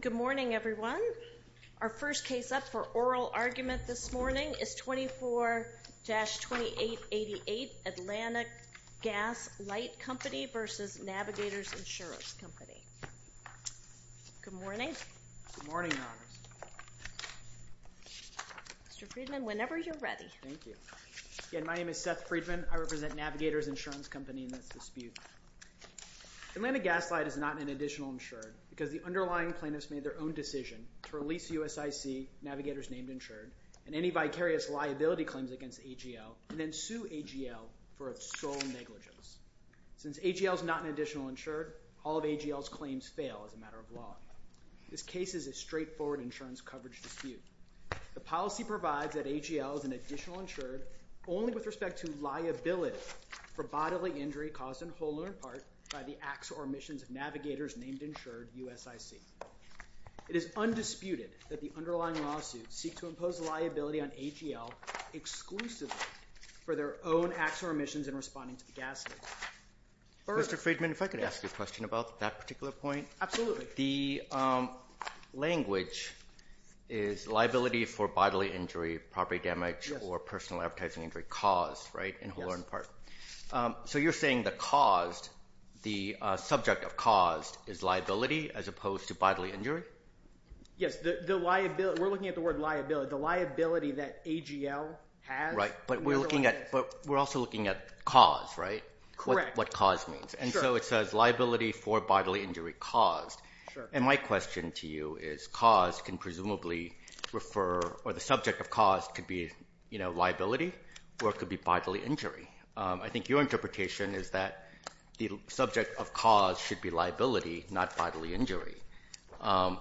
Good morning, everyone. Our first case up for oral argument this morning is 24-2888 Atlantic Gas Light Company v. Navigators Insurance Company. Good morning. Good morning, Your Honors. Mr. Friedman, whenever you're ready. Thank you. Again, my name is Seth Friedman. I represent Navigators Insurance Company in this dispute. Atlantic Gas Light is not an additional insured because the underlying plaintiffs made their own decision to release USIC Navigators named insured and any vicarious liability claims against AGL and then sue AGL for sole negligence. Since AGL is not an additional insured, all of AGL's claims fail as a matter of law. This case is a straightforward insurance coverage dispute. The policy provides that AGL is an additional insured only with respect to liability for bodily injury caused in whole or in part by the acts or omissions of Navigators named insured USIC. It is undisputed that the underlying lawsuits seek to impose liability on AGL exclusively for their own acts or omissions in responding to the gas leak. Mr. Friedman, if I could ask you a question about that particular point. Absolutely. The language is liability for bodily injury, property damage, or personal advertising injury caused in whole or in part. You're saying the subject of caused is liability as opposed to bodily injury? Yes. We're looking at the word liability, the liability that AGL has. Right, but we're also looking at cause, right? Correct. What cause means. And so it says liability for bodily injury caused. And my question to you is cause can presumably refer or the subject of cause could be liability or it could be bodily injury. I think your interpretation is that the subject of cause should be liability, not bodily injury. Or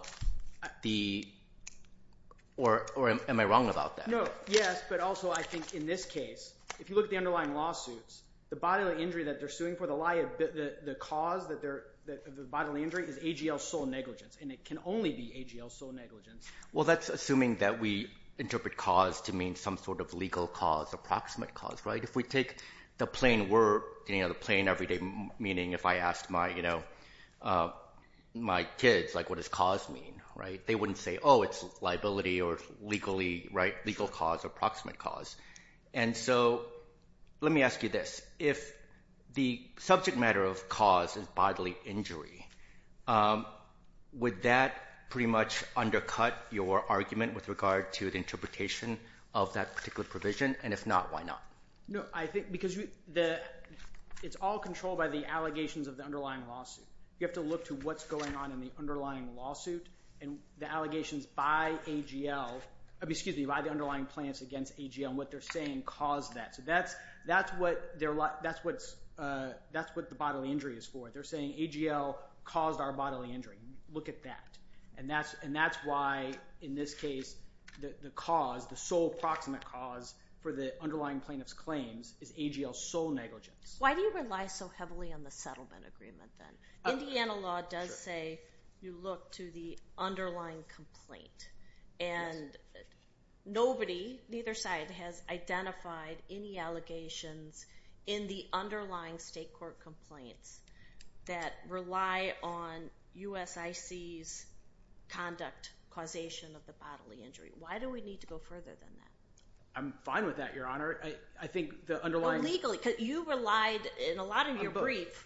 am I wrong about that? Yes, but also I think in this case, if you look at the underlying lawsuits, the bodily injury that they're suing for, the cause of the bodily injury is AGL sole negligence. And it can only be AGL sole negligence. Well, that's assuming that we interpret cause to mean some sort of legal cause, approximate cause, right? If we take the plain word, the plain everyday meaning, if I asked my kids what does cause mean, they wouldn't say, oh, it's liability or legal cause or approximate cause. And so let me ask you this. If the subject matter of cause is bodily injury, would that pretty much undercut your argument with regard to the interpretation of that particular provision? And if not, why not? No, I think because it's all controlled by the allegations of the underlying lawsuit. You have to look to what's going on in the underlying lawsuit and the allegations by AGL, excuse me, by the underlying plaintiffs against AGL and what they're saying caused that. So that's what the bodily injury is for. They're saying AGL caused our bodily injury. Look at that. And that's why, in this case, the cause, the sole approximate cause for the underlying plaintiff's claims is AGL sole negligence. Why do you rely so heavily on the settlement agreement then? Indiana law does say you look to the underlying complaint. And nobody, neither side, has identified any allegations in the underlying state court complaints that rely on USIC's conduct causation of the bodily injury. Why do we need to go further than that? I'm fine with that, Your Honor. I think the underlying… You relied in a lot of your brief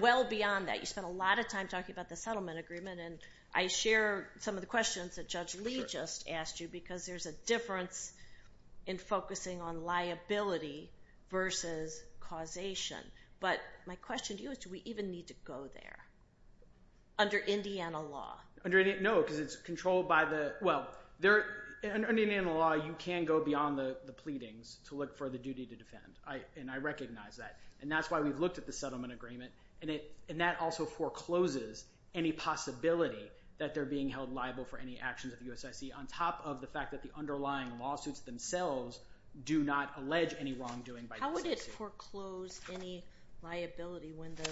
well beyond that. You spent a lot of time talking about the settlement agreement, and I share some of the questions that Judge Lee just asked you because there's a difference in focusing on liability versus causation. But my question to you is do we even need to go there under Indiana law? No, because it's controlled by the… And that's why we've looked at the settlement agreement, and that also forecloses any possibility that they're being held liable for any actions of USIC on top of the fact that the underlying lawsuits themselves do not allege any wrongdoing by USIC. How would it foreclose any liability when the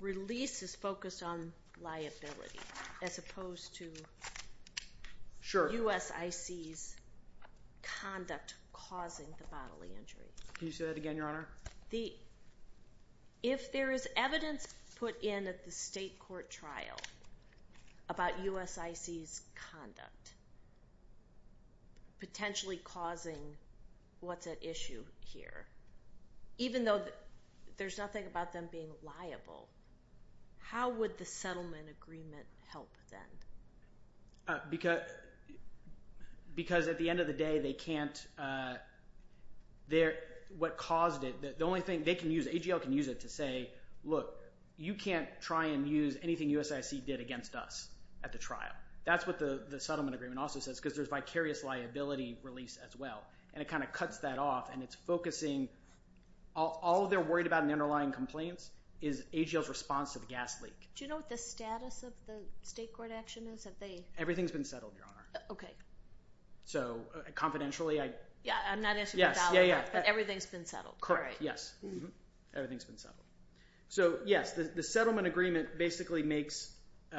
release is focused on liability as opposed to USIC's conduct causing the bodily injury? Can you say that again, Your Honor? If there is evidence put in at the state court trial about USIC's conduct potentially causing what's at issue here, even though there's nothing about them being liable, how would the settlement agreement help then? Because at the end of the day, they can't – what caused it – the only thing they can use, AGL can use it to say, look, you can't try and use anything USIC did against us at the trial. That's what the settlement agreement also says because there's vicarious liability release as well, and it kind of cuts that off, and it's focusing – all they're worried about in the underlying complaints is AGL's response to the gas leak. Do you know what the status of the state court action is? Everything's been settled, Your Honor. Okay. So, confidentially, I – Yeah, I'm not asking for a ballot, but everything's been settled. Correct, yes. Everything's been settled. So, yes, the settlement agreement basically makes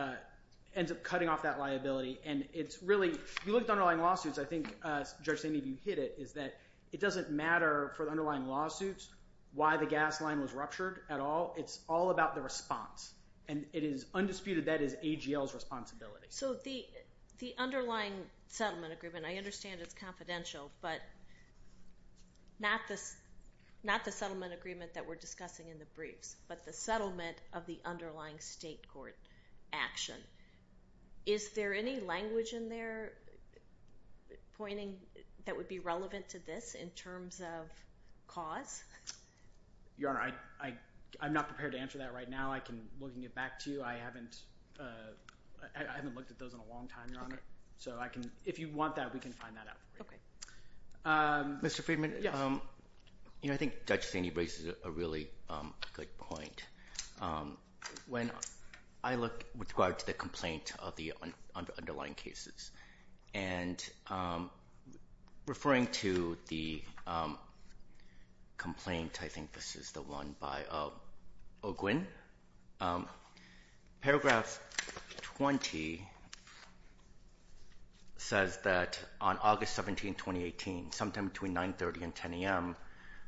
– ends up cutting off that liability, and it's really – if you look at the underlying lawsuits, I think, Judge Sandeep, you hit it, is that it doesn't matter for the underlying lawsuits why the gas line was ruptured at all. It's all about the response, and it is undisputed that is AGL's responsibility. So, the underlying settlement agreement, I understand it's confidential, but not the settlement agreement that we're discussing in the briefs, but the settlement of the underlying state court action. Is there any language in there pointing that would be relevant to this in terms of cause? Your Honor, I'm not prepared to answer that right now. I can look and get back to you. I haven't looked at those in a long time, Your Honor. Okay. So, I can – if you want that, we can find that out for you. Okay. Mr. Friedman? Yes. I think Judge Sandeep raises a really good point. When I look with regard to the complaint of the underlying cases, and referring to the complaint, I think this is the one by O'Gwinn, paragraph 20 says that on August 17, 2018, sometime between 930 and 10 a.m.,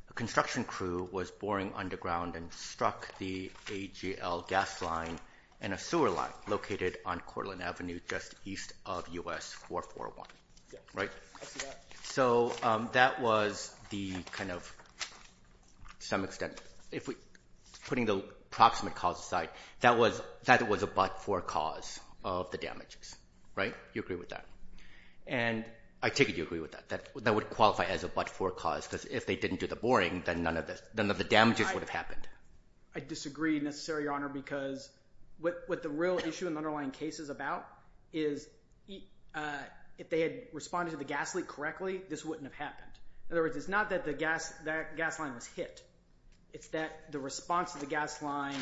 a construction crew was boring underground and struck the AGL gas line and a sewer line located on Cortland Avenue just east of U.S. 441. Right? I see that. So, that was the kind of – to some extent, putting the approximate cause aside, that was a but for cause of the damages. Right? You agree with that? And – I take it you agree with that. That would qualify as a but for cause because if they didn't do the boring, then none of the damages would have happened. I disagree necessarily, Your Honor, because what the real issue in the underlying case is about is if they had responded to the gas leak correctly, this wouldn't have happened. In other words, it's not that the gas – that gas line was hit. It's that the response to the gas line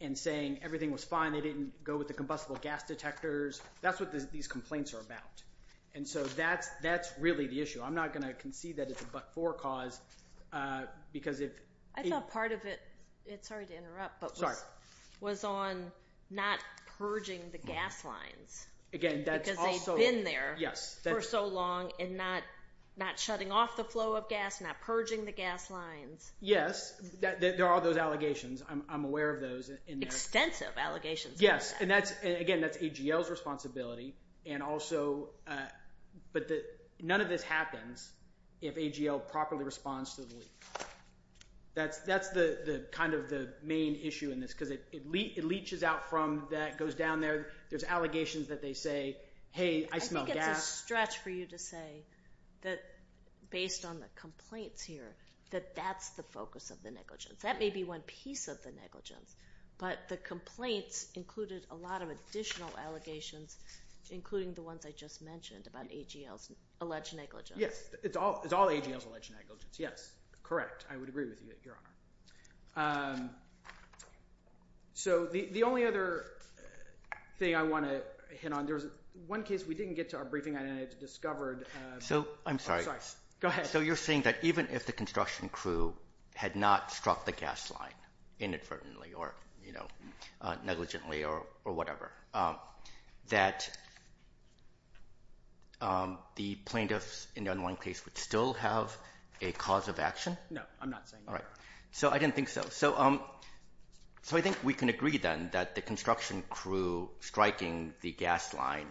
and saying everything was fine, they didn't go with the combustible gas detectors. That's what these complaints are about. And so, that's really the issue. I'm not going to concede that it's a but for cause because if – I thought part of it – sorry to interrupt, but was on not purging the gas lines. Again, that's also – Because they've been there for so long and not shutting off the flow of gas, not purging the gas lines. Yes, there are those allegations. I'm aware of those. Extensive allegations. Yes, and that's – again, that's AGL's responsibility and also – but none of this happens if AGL properly responds to the leak. That's the kind of the main issue in this because it leeches out from that, goes down there. There's allegations that they say, hey, I smell gas. I think it's a stretch for you to say that based on the complaints here that that's the focus of the negligence. That may be one piece of the negligence, but the complaints included a lot of additional allegations, including the ones I just mentioned about AGL's alleged negligence. Yes, it's all AGL's alleged negligence. Yes, correct. I would agree with you, Your Honor. So the only other thing I want to hit on, there was one case we didn't get to our briefing on and it's discovered. I'm sorry. Go ahead. So you're saying that even if the construction crew had not struck the gas line inadvertently or negligently or whatever, that the plaintiffs in that one case would still have a cause of action? No, I'm not saying that. All right. So I didn't think so. So I think we can agree then that the construction crew striking the gas line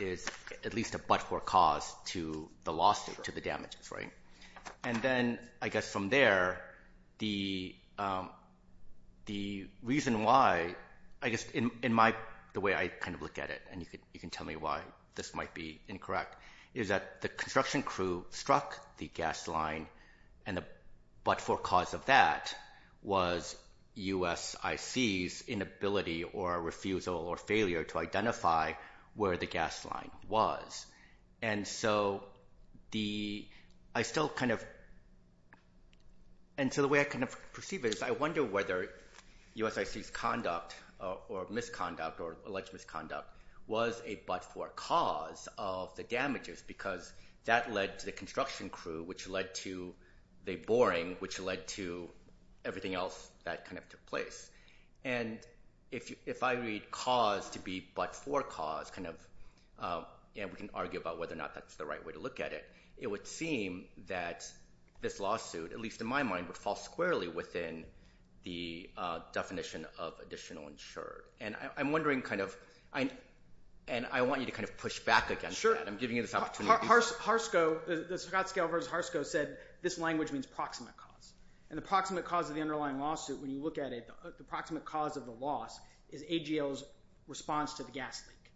is at least a but-for cause to the lawsuit, to the damages, right? And then I guess from there, the reason why, I guess in the way I kind of look at it, and you can tell me why this might be incorrect, is that the construction crew struck the gas line, and the but-for cause of that was USIC's inability or refusal or failure to identify where the gas line was. And so I still kind of – and so the way I kind of perceive it is I wonder whether USIC's conduct or misconduct or alleged misconduct was a but-for cause of the damages because that led to the construction crew, which led to the boring, which led to everything else that kind of took place. And if I read cause to be but-for cause, we can argue about whether or not that's the right way to look at it. It would seem that this lawsuit, at least in my mind, would fall squarely within the definition of additional insured. And I'm wondering kind of – and I want you to kind of push back against that. I'm giving you this opportunity. Harsco – the Scott scale versus Harsco said this language means proximate cause. And the proximate cause of the underlying lawsuit, when you look at it, the proximate cause of the loss is AGL's response to the gas leak.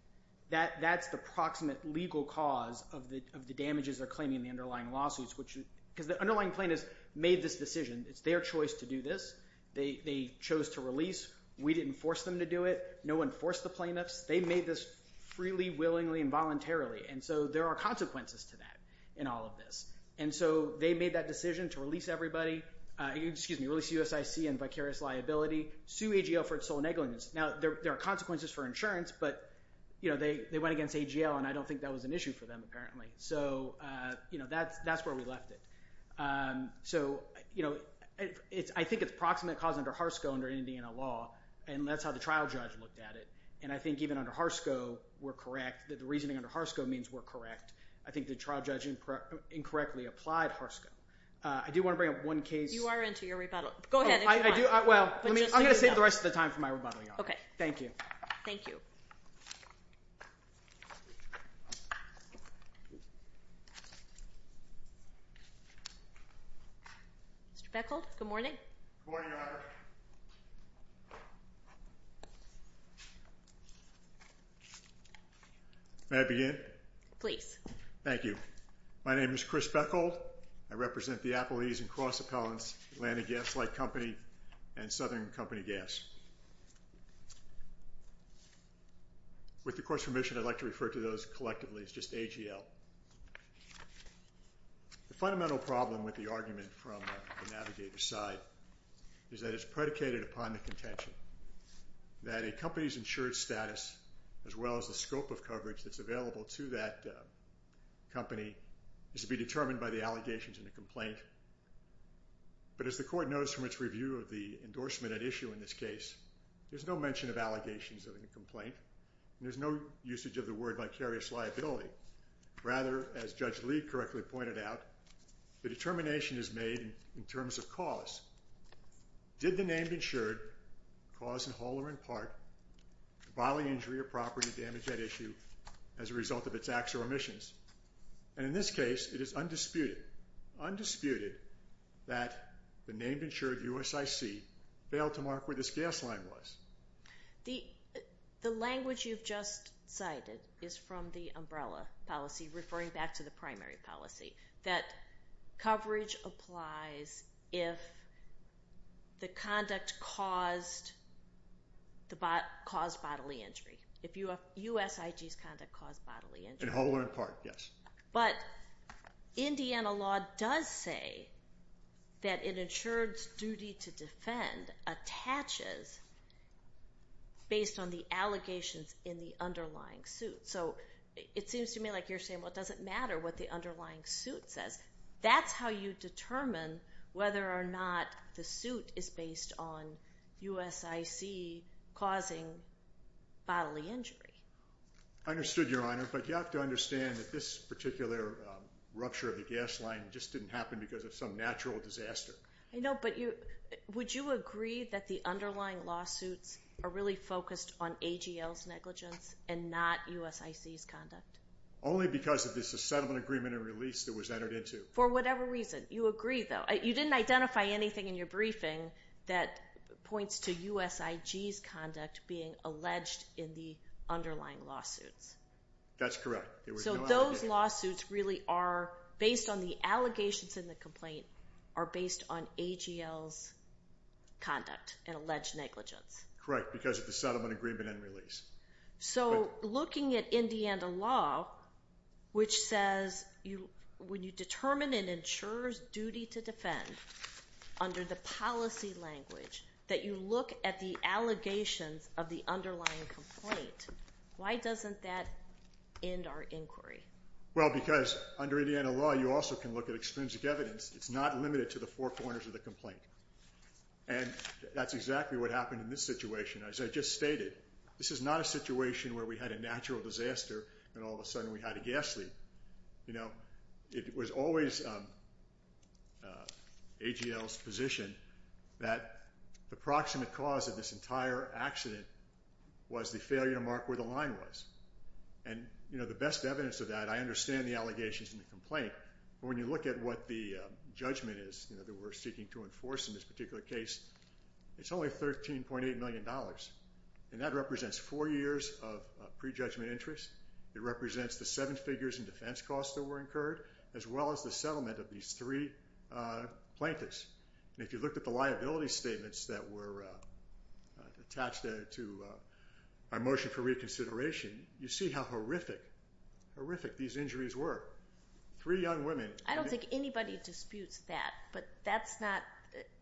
That's the proximate legal cause of the damages they're claiming in the underlying lawsuits, which – because the underlying plaintiffs made this decision. It's their choice to do this. They chose to release. We didn't force them to do it. No one forced the plaintiffs. They made this freely, willingly, and voluntarily. And so there are consequences to that in all of this. And so they made that decision to release everybody – excuse me, release USIC and vicarious liability, sue AGL for its sole negligence. Now, there are consequences for insurance, but they went against AGL, and I don't think that was an issue for them apparently. So that's where we left it. So I think it's proximate cause under Harsco under Indiana law, and that's how the trial judge looked at it. And I think even under Harsco, we're correct. The reasoning under Harsco means we're correct. I think the trial judge incorrectly applied Harsco. I do want to bring up one case. You are into your rebuttal. Go ahead. Well, I'm going to save the rest of the time for my rebuttal, Your Honor. Okay. Thank you. Thank you. Mr. Beckholt, good morning. Good morning, Your Honor. May I begin? Please. Thank you. My name is Chris Beckholt. I represent the Appalachian Cross Appellants, Atlantic Gas Light Company, and Southern Company Gas. With the Court's permission, I'd like to refer to those collectively as just AGL. The fundamental problem with the argument from the navigator's side is that it's predicated upon the contention that a company's insured status, as well as the scope of coverage that's available to that company, is to be determined by the allegations in the complaint. But as the Court knows from its review of the endorsement at issue in this case, there's no mention of allegations in the complaint, and there's no usage of the word vicarious liability. Rather, as Judge Lee correctly pointed out, the determination is made in terms of cause. Did the named insured cause, in whole or in part, bodily injury or property damage at issue as a result of its acts or omissions? And in this case, it is undisputed, undisputed, that the named insured, USIC, failed to mark where this gas line was. The language you've just cited is from the umbrella policy, referring back to the primary policy, that coverage applies if the conduct caused bodily injury, if USIG's conduct caused bodily injury. In whole or in part, yes. But Indiana law does say that an insured's duty to defend attaches based on the allegations in the underlying suit. So it seems to me like you're saying, well, it doesn't matter what the underlying suit says. That's how you determine whether or not the suit is based on USIC causing bodily injury. I understood, Your Honor, but you have to understand that this particular rupture of the gas line just didn't happen because of some natural disaster. I know, but would you agree that the underlying lawsuits are really focused on AGL's negligence and not USIC's conduct? Only because of this settlement agreement and release that was entered into. For whatever reason, you agree, though. You didn't identify anything in your briefing that points to USIG's conduct being alleged in the underlying lawsuits. That's correct. So those lawsuits really are based on the allegations in the complaint are based on AGL's conduct and alleged negligence. Correct, because of the settlement agreement and release. So looking at Indiana law, which says when you determine an insurer's duty to defend under the policy language, that you look at the allegations of the underlying complaint. Why doesn't that end our inquiry? Well, because under Indiana law, you also can look at extrinsic evidence. It's not limited to the four corners of the complaint. And that's exactly what happened in this situation. As I just stated, this is not a situation where we had a natural disaster and all of a sudden we had a gas leak. It was always AGL's position that the proximate cause of this entire accident was the failure to mark where the line was. And the best evidence of that, I understand the allegations in the complaint, but when you look at what the judgment is that we're seeking to enforce in this particular case, it's only $13.8 million. And that represents four years of prejudgment interest. It represents the seven figures in defense costs that were incurred, as well as the settlement of these three plaintiffs. And if you looked at the liability statements that were attached to our motion for reconsideration, you see how horrific, horrific these injuries were. Three young women. I don't think anybody disputes that, but that's not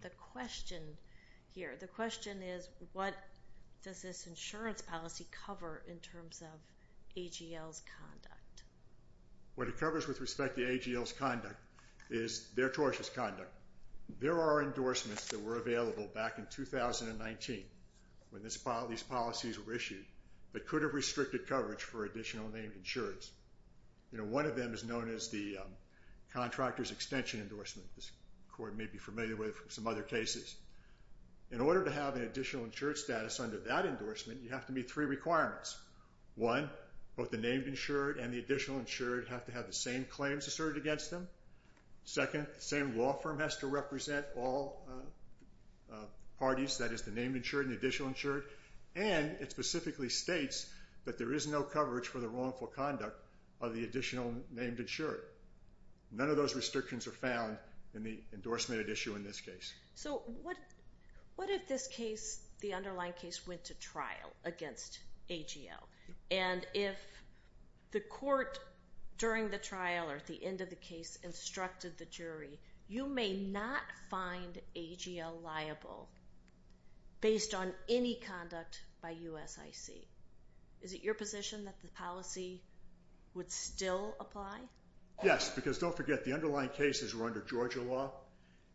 the question here. The question is, what does this insurance policy cover in terms of AGL's conduct? What it covers with respect to AGL's conduct is their tortious conduct. There are endorsements that were available back in 2019 when these policies were issued that could have restricted coverage for additional named insurers. One of them is known as the contractor's extension endorsement. This court may be familiar with some other cases. In order to have an additional insured status under that endorsement, you have to meet three requirements. One, both the named insured and the additional insured have to have the same claims asserted against them. Second, the same law firm has to represent all parties, that is, the named insured and the additional insured. And it specifically states that there is no coverage for the wrongful conduct of the additional named insured. None of those restrictions are found in the endorsement at issue in this case. So what if this case, the underlying case, went to trial against AGL? And if the court during the trial or at the end of the case instructed the jury, you may not find AGL liable based on any conduct by USIC. Is it your position that the policy would still apply? Yes, because don't forget, the underlying cases were under Georgia law,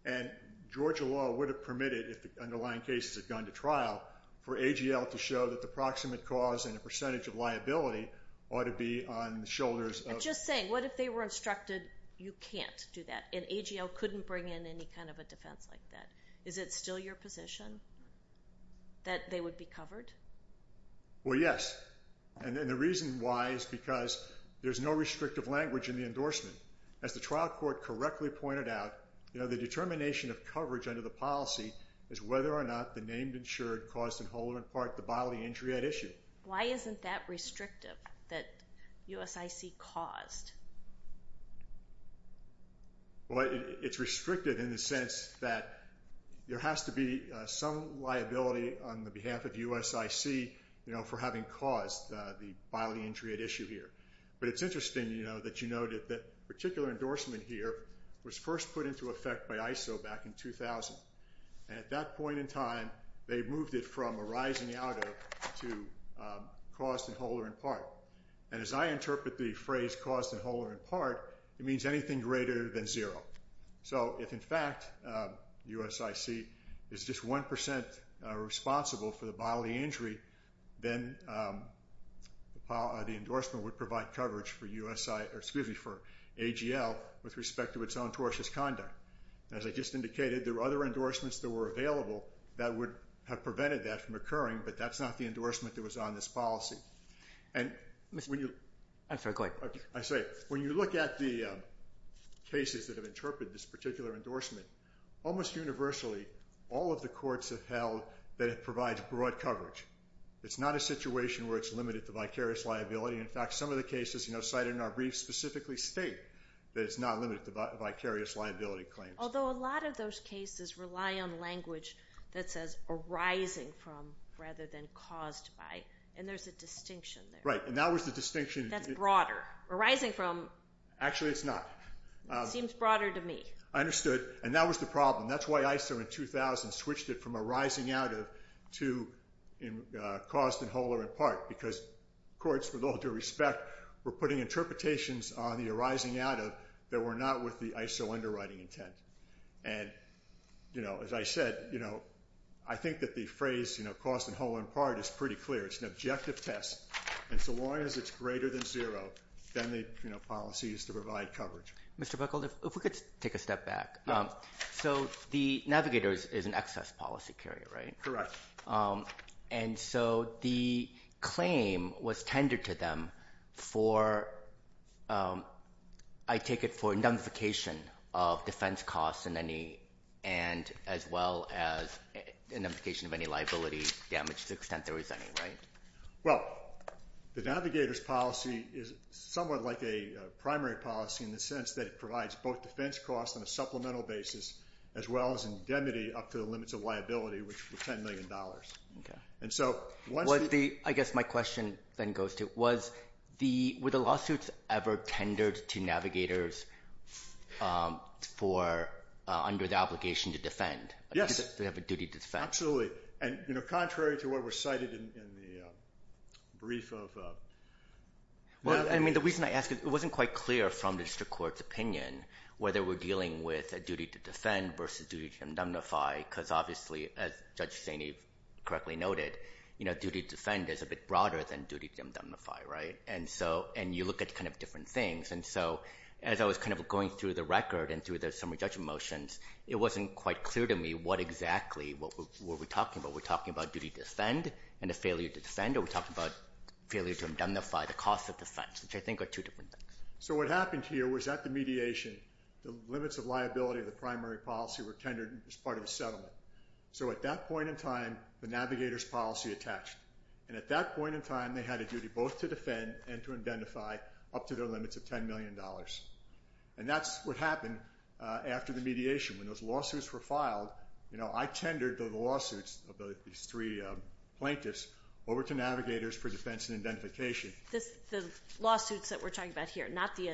and Georgia law would have permitted, if the underlying cases had gone to trial, for AGL to show that the proximate cause and the percentage of liability ought to be on the shoulders of the jury. I'm just saying, what if they were instructed you can't do that and AGL couldn't bring in any kind of a defense like that? Is it still your position that they would be covered? Well, yes, and the reason why is because there's no restrictive language in the endorsement. As the trial court correctly pointed out, the determination of coverage under the policy is whether or not the named insured caused in whole or in part the bodily injury at issue. Why isn't that restrictive, that USIC caused? Well, it's restrictive in the sense that there has to be some liability on the behalf of USIC for having caused the bodily injury at issue here. But it's interesting that you note that the particular endorsement here was first put into effect by ISO back in 2000. And at that point in time, they moved it from arising out of to caused in whole or in part. And as I interpret the phrase caused in whole or in part, it means anything greater than zero. So if, in fact, USIC is just 1% responsible for the bodily injury, then the endorsement would provide coverage for AGL with respect to its own tortious conduct. As I just indicated, there were other endorsements that were available that would have prevented that from occurring, but that's not the endorsement that was on this policy. And when you look at the cases that have interpreted this particular endorsement, almost universally, all of the courts have held that it provides broad coverage. It's not a situation where it's limited to vicarious liability. In fact, some of the cases cited in our brief specifically state that it's not limited to vicarious liability claims. Although a lot of those cases rely on language that says arising from rather than caused by, and there's a distinction there. Right, and that was the distinction. That's broader. Arising from. Actually, it's not. It seems broader to me. I understood. And that was the problem. That's why ISO in 2000 switched it from arising out of to caused in whole or in part because courts, with all due respect, were putting interpretations on the arising out of that were not with the ISO underwriting intent. And as I said, I think that the phrase caused in whole or in part is pretty clear. It's an objective test. And so long as it's greater than zero, then the policy is to provide coverage. Mr. Bickel, if we could take a step back. So the navigators is an excess policy carrier, right? Correct. And so the claim was tendered to them for, I take it, for identification of defense costs and as well as identification of any liability damage to the extent there is any, right? Well, the navigators policy is somewhat like a primary policy in the sense that it provides both defense costs on a supplemental basis as well as indemnity up to the limits of liability, which were $10 million. Okay. I guess my question then goes to, were the lawsuits ever tendered to navigators under the obligation to defend? Yes. Do they have a duty to defend? Absolutely. And, you know, contrary to what was cited in the brief of... Well, I mean, the reason I ask it, it wasn't quite clear from the district court's opinion whether we're dealing with a duty to defend versus duty to indemnify because obviously, as Judge Saini correctly noted, you know, duty to defend is a bit broader than duty to indemnify, right? And you look at kind of different things. And so as I was kind of going through the record and through the summary judgment motions, it wasn't quite clear to me what exactly were we talking about. Were we talking about duty to defend and a failure to defend, or were we talking about failure to indemnify the cost of defense, which I think are two different things. So what happened here was at the mediation, the limits of liability of the primary policy were tendered as part of a settlement. So at that point in time, the navigators policy attached. And at that point in time, they had a duty both to defend and to indemnify up to their limits of $10 million. And that's what happened after the mediation. When those lawsuits were filed, you know, I tendered the lawsuits of these three plaintiffs over to navigators for defense and indemnification. The lawsuits that we're talking about here, not the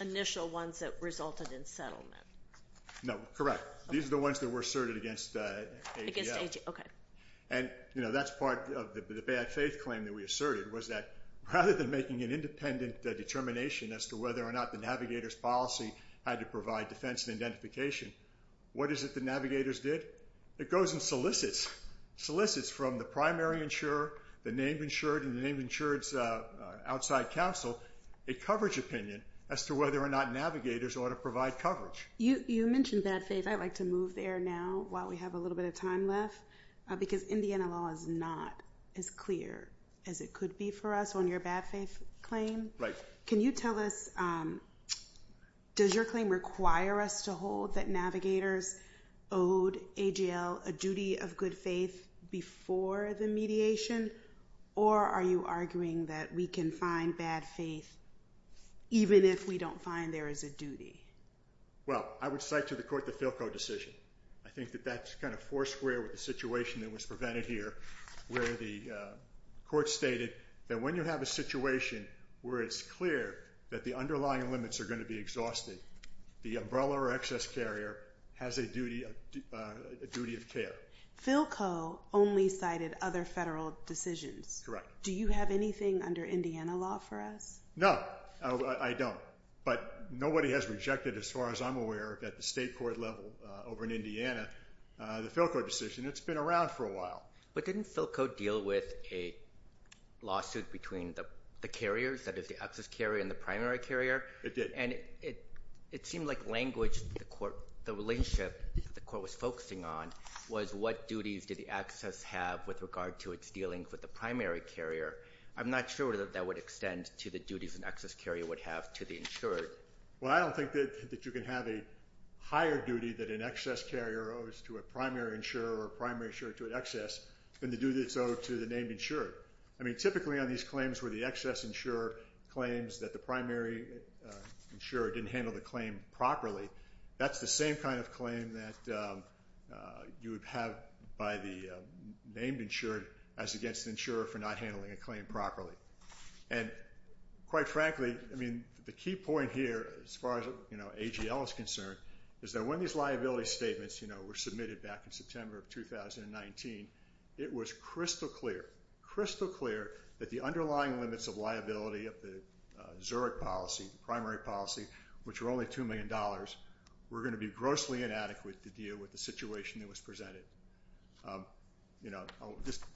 initial ones that resulted in settlement. No, correct. These are the ones that were asserted against ADL. Against ADL, okay. And, you know, that's part of the bad faith claim that we asserted, was that rather than making an independent determination as to whether or not the navigators policy had to provide defense and identification, what is it the navigators did? It goes and solicits, solicits from the primary insurer, the name insured, and the name insured's outside counsel a coverage opinion as to whether or not navigators ought to provide coverage. You mentioned bad faith. I'd like to move there now while we have a little bit of time left, because Indiana law is not as clear as it could be for us on your bad faith claim. Can you tell us, does your claim require us to hold that navigators owed ADL a duty of good faith before the mediation, or are you arguing that we can find bad faith even if we don't find there is a duty? Well, I would cite to the court the Philco decision. I think that that's kind of four square with the situation that was prevented here, where the court stated that when you have a situation where it's clear that the underlying limits are going to be exhausted, the umbrella or excess carrier has a duty of care. Philco only cited other federal decisions. Correct. Do you have anything under Indiana law for us? No, I don't. But nobody has rejected, as far as I'm aware, at the state court level over in Indiana, the Philco decision. It's been around for a while. But didn't Philco deal with a lawsuit between the carriers, that is, the excess carrier and the primary carrier? It did. And it seemed like language the relationship the court was focusing on was what duties did the excess have with regard to its dealing with the primary carrier. I'm not sure that that would extend to the duties an excess carrier would have to the insured. Well, I don't think that you can have a higher duty that an excess carrier owes to a primary insurer or a primary insurer to an excess than the duty that's owed to the named insured. I mean, typically on these claims where the excess insurer claims that the primary insurer didn't handle the claim properly, that's the same kind of claim that you would have by the named insured as against the insurer for not handling a claim properly. And quite frankly, I mean, the key point here as far as AGL is concerned is that when these liability statements were submitted back in September of 2019, it was crystal clear, crystal clear that the underlying limits of liability of the Zurich policy, the primary policy, which were only $2 million, were going to be grossly inadequate to deal with the situation that was presented. You know,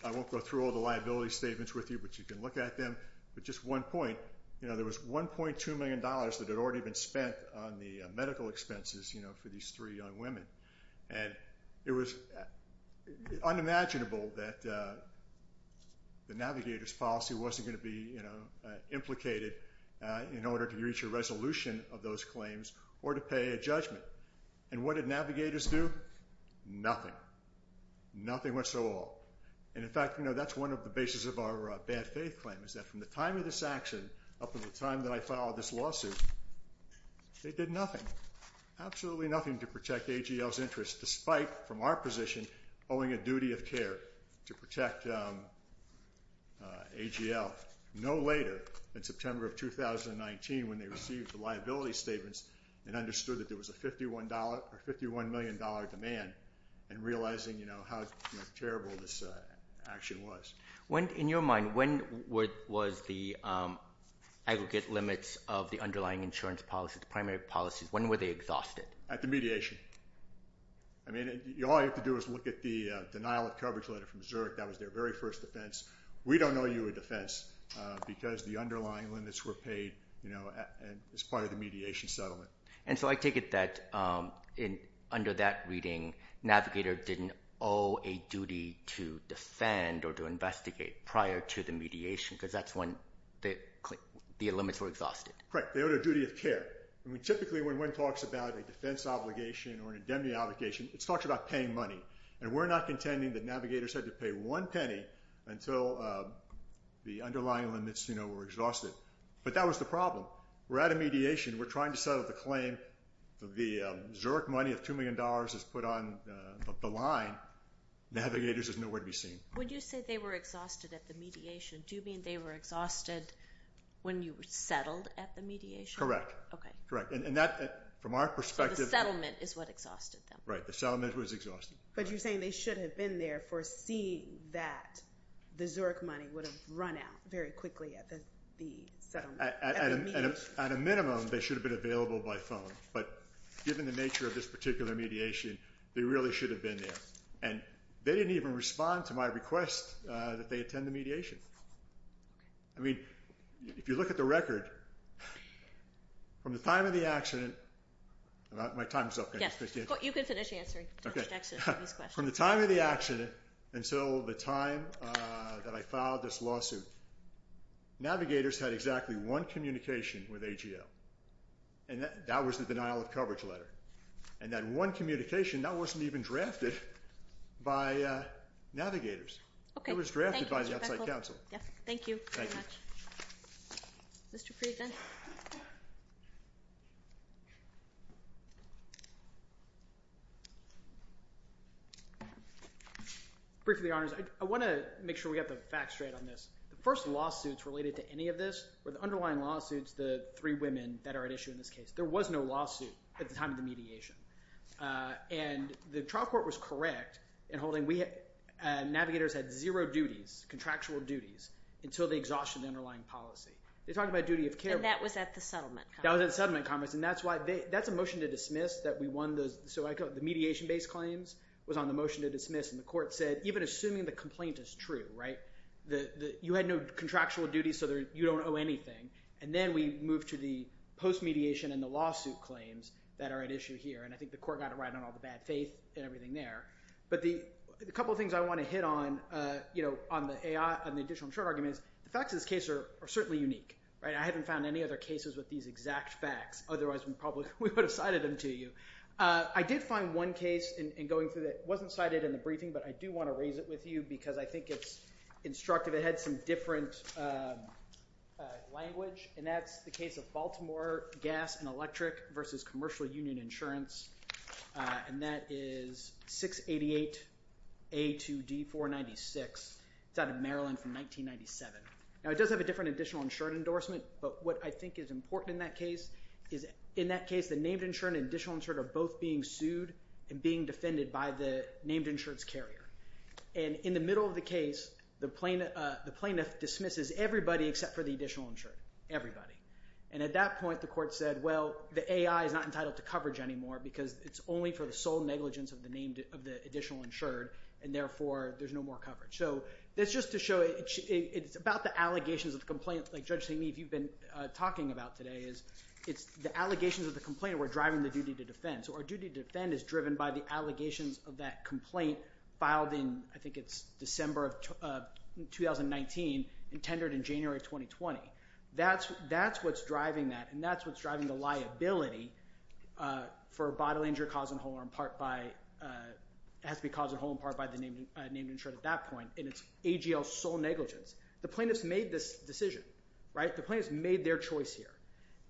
I won't go through all the liability statements with you, but you can look at them. But just one point, you know, there was $1.2 million that had already been spent on the medical expenses, you know, for these three young women. And it was unimaginable that the navigator's policy wasn't going to be, you know, implicated in order to reach a resolution of those claims or to pay a judgment. And what did navigators do? Nothing. Nothing whatsoever. And in fact, you know, that's one of the basis of our bad faith claim, is that from the time of this action up to the time that I filed this lawsuit, they did nothing, absolutely nothing to protect AGL's interests, despite from our position owing a duty of care to protect AGL. No later than September of 2019 when they received the liability statements and understood that there was a $51 million demand and realizing, you know, how terrible this action was. In your mind, when was the aggregate limits of the underlying insurance policy, the primary policies, when were they exhausted? At the mediation. I mean, all you have to do is look at the denial of coverage letter from Zurich. That was their very first defense. We don't owe you a defense because the underlying limits were paid, you know, as part of the mediation settlement. And so I take it that under that reading, navigator didn't owe a duty to defend or to investigate prior to the mediation because that's when the limits were exhausted. Correct. They owed a duty of care. I mean, typically when one talks about a defense obligation or an indemnity obligation, it talks about paying money. And we're not contending that navigators had to pay one penny until the underlying limits, you know, were exhausted. But that was the problem. We're at a mediation. We're trying to settle the claim. The Zurich money of $2 million is put on the line. Navigators is nowhere to be seen. When you say they were exhausted at the mediation, do you mean they were exhausted when you settled at the mediation? Correct. Okay. Correct. And that, from our perspective. So the settlement is what exhausted them. Right. The settlement was exhausting. But you're saying they should have been there foreseeing that the Zurich money would have run out very quickly at the settlement. At a minimum, they should have been available by phone. But given the nature of this particular mediation, they really should have been there. And they didn't even respond to my request that they attend the mediation. Okay. I mean, if you look at the record, from the time of the accident. My time is up. Yes. You can finish answering. From the time of the accident until the time that I filed this lawsuit, Navigators had exactly one communication with AGL. And that was the denial of coverage letter. And that one communication, that wasn't even drafted by Navigators. It was drafted by the outside counsel. Thank you very much. Thank you. Briefly, Your Honors, I want to make sure we get the facts straight on this. The first lawsuits related to any of this were the underlying lawsuits, the three women that are at issue in this case. There was no lawsuit at the time of the mediation. And the trial court was correct in holding Navigators had zero duties, contractual duties, until they exhausted the underlying policy. They talked about duty of care. And that was at the settlement conference. That was at the settlement conference. And that's why they – that's a motion to dismiss that we won the – so the mediation-based claims was on the motion to dismiss and the court said, even assuming the complaint is true, right? You had no contractual duties, so you don't owe anything. And then we moved to the post-mediation and the lawsuit claims that are at issue here. And I think the court got it right on all the bad faith and everything there. But the couple of things I want to hit on, you know, on the additional short arguments, the facts of this case are certainly unique, right? I haven't found any other cases with these exact facts. Otherwise, we probably would have cited them to you. I did find one case in going through that wasn't cited in the briefing, but I do want to raise it with you because I think it's instructive. It had some different language, and that's the case of Baltimore Gas and Electric versus Commercial Union Insurance, and that is 688A2D496. It's out of Maryland from 1997. Now, it does have a different additional insurance endorsement, but what I think is important in that case is, in that case, the named insured and additional insured are both being sued and being defended by the named insured's carrier. And in the middle of the case, the plaintiff dismisses everybody except for the additional insured, everybody. And at that point, the court said, well, the AI is not entitled to coverage anymore because it's only for the sole negligence of the additional insured, and therefore there's no more coverage. So that's just to show it's about the allegations of the complaint. Like, Judge Taney, if you've been talking about today, it's the allegations of the complaint that we're driving the duty to defend. So our duty to defend is driven by the allegations of that complaint filed in, I think it's December of 2019 and tendered in January of 2020. That's what's driving that, and that's what's driving the liability for a body injury caused in whole or in part by the named insured at that point, and it's AGL sole negligence. The plaintiffs made this decision, right? The plaintiffs made their choice here,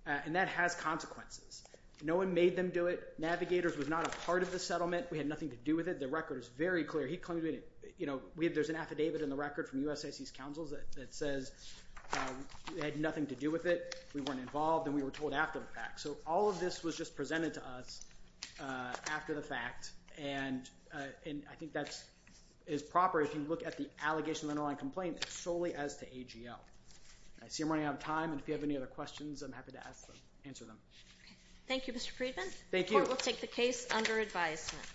and that has consequences. No one made them do it. Navigators was not a part of the settlement. We had nothing to do with it. The record is very clear. There's an affidavit in the record from USAC's counsels that says we had nothing to do with it, we weren't involved, and we were told after the fact. So all of this was just presented to us after the fact, and I think that is proper. If you look at the allegation of an underlying complaint, it's solely as to AGL. I see I'm running out of time, and if you have any other questions, I'm happy to answer them. Thank you, Mr. Friedman. Thank you. The court will take the case under advisement.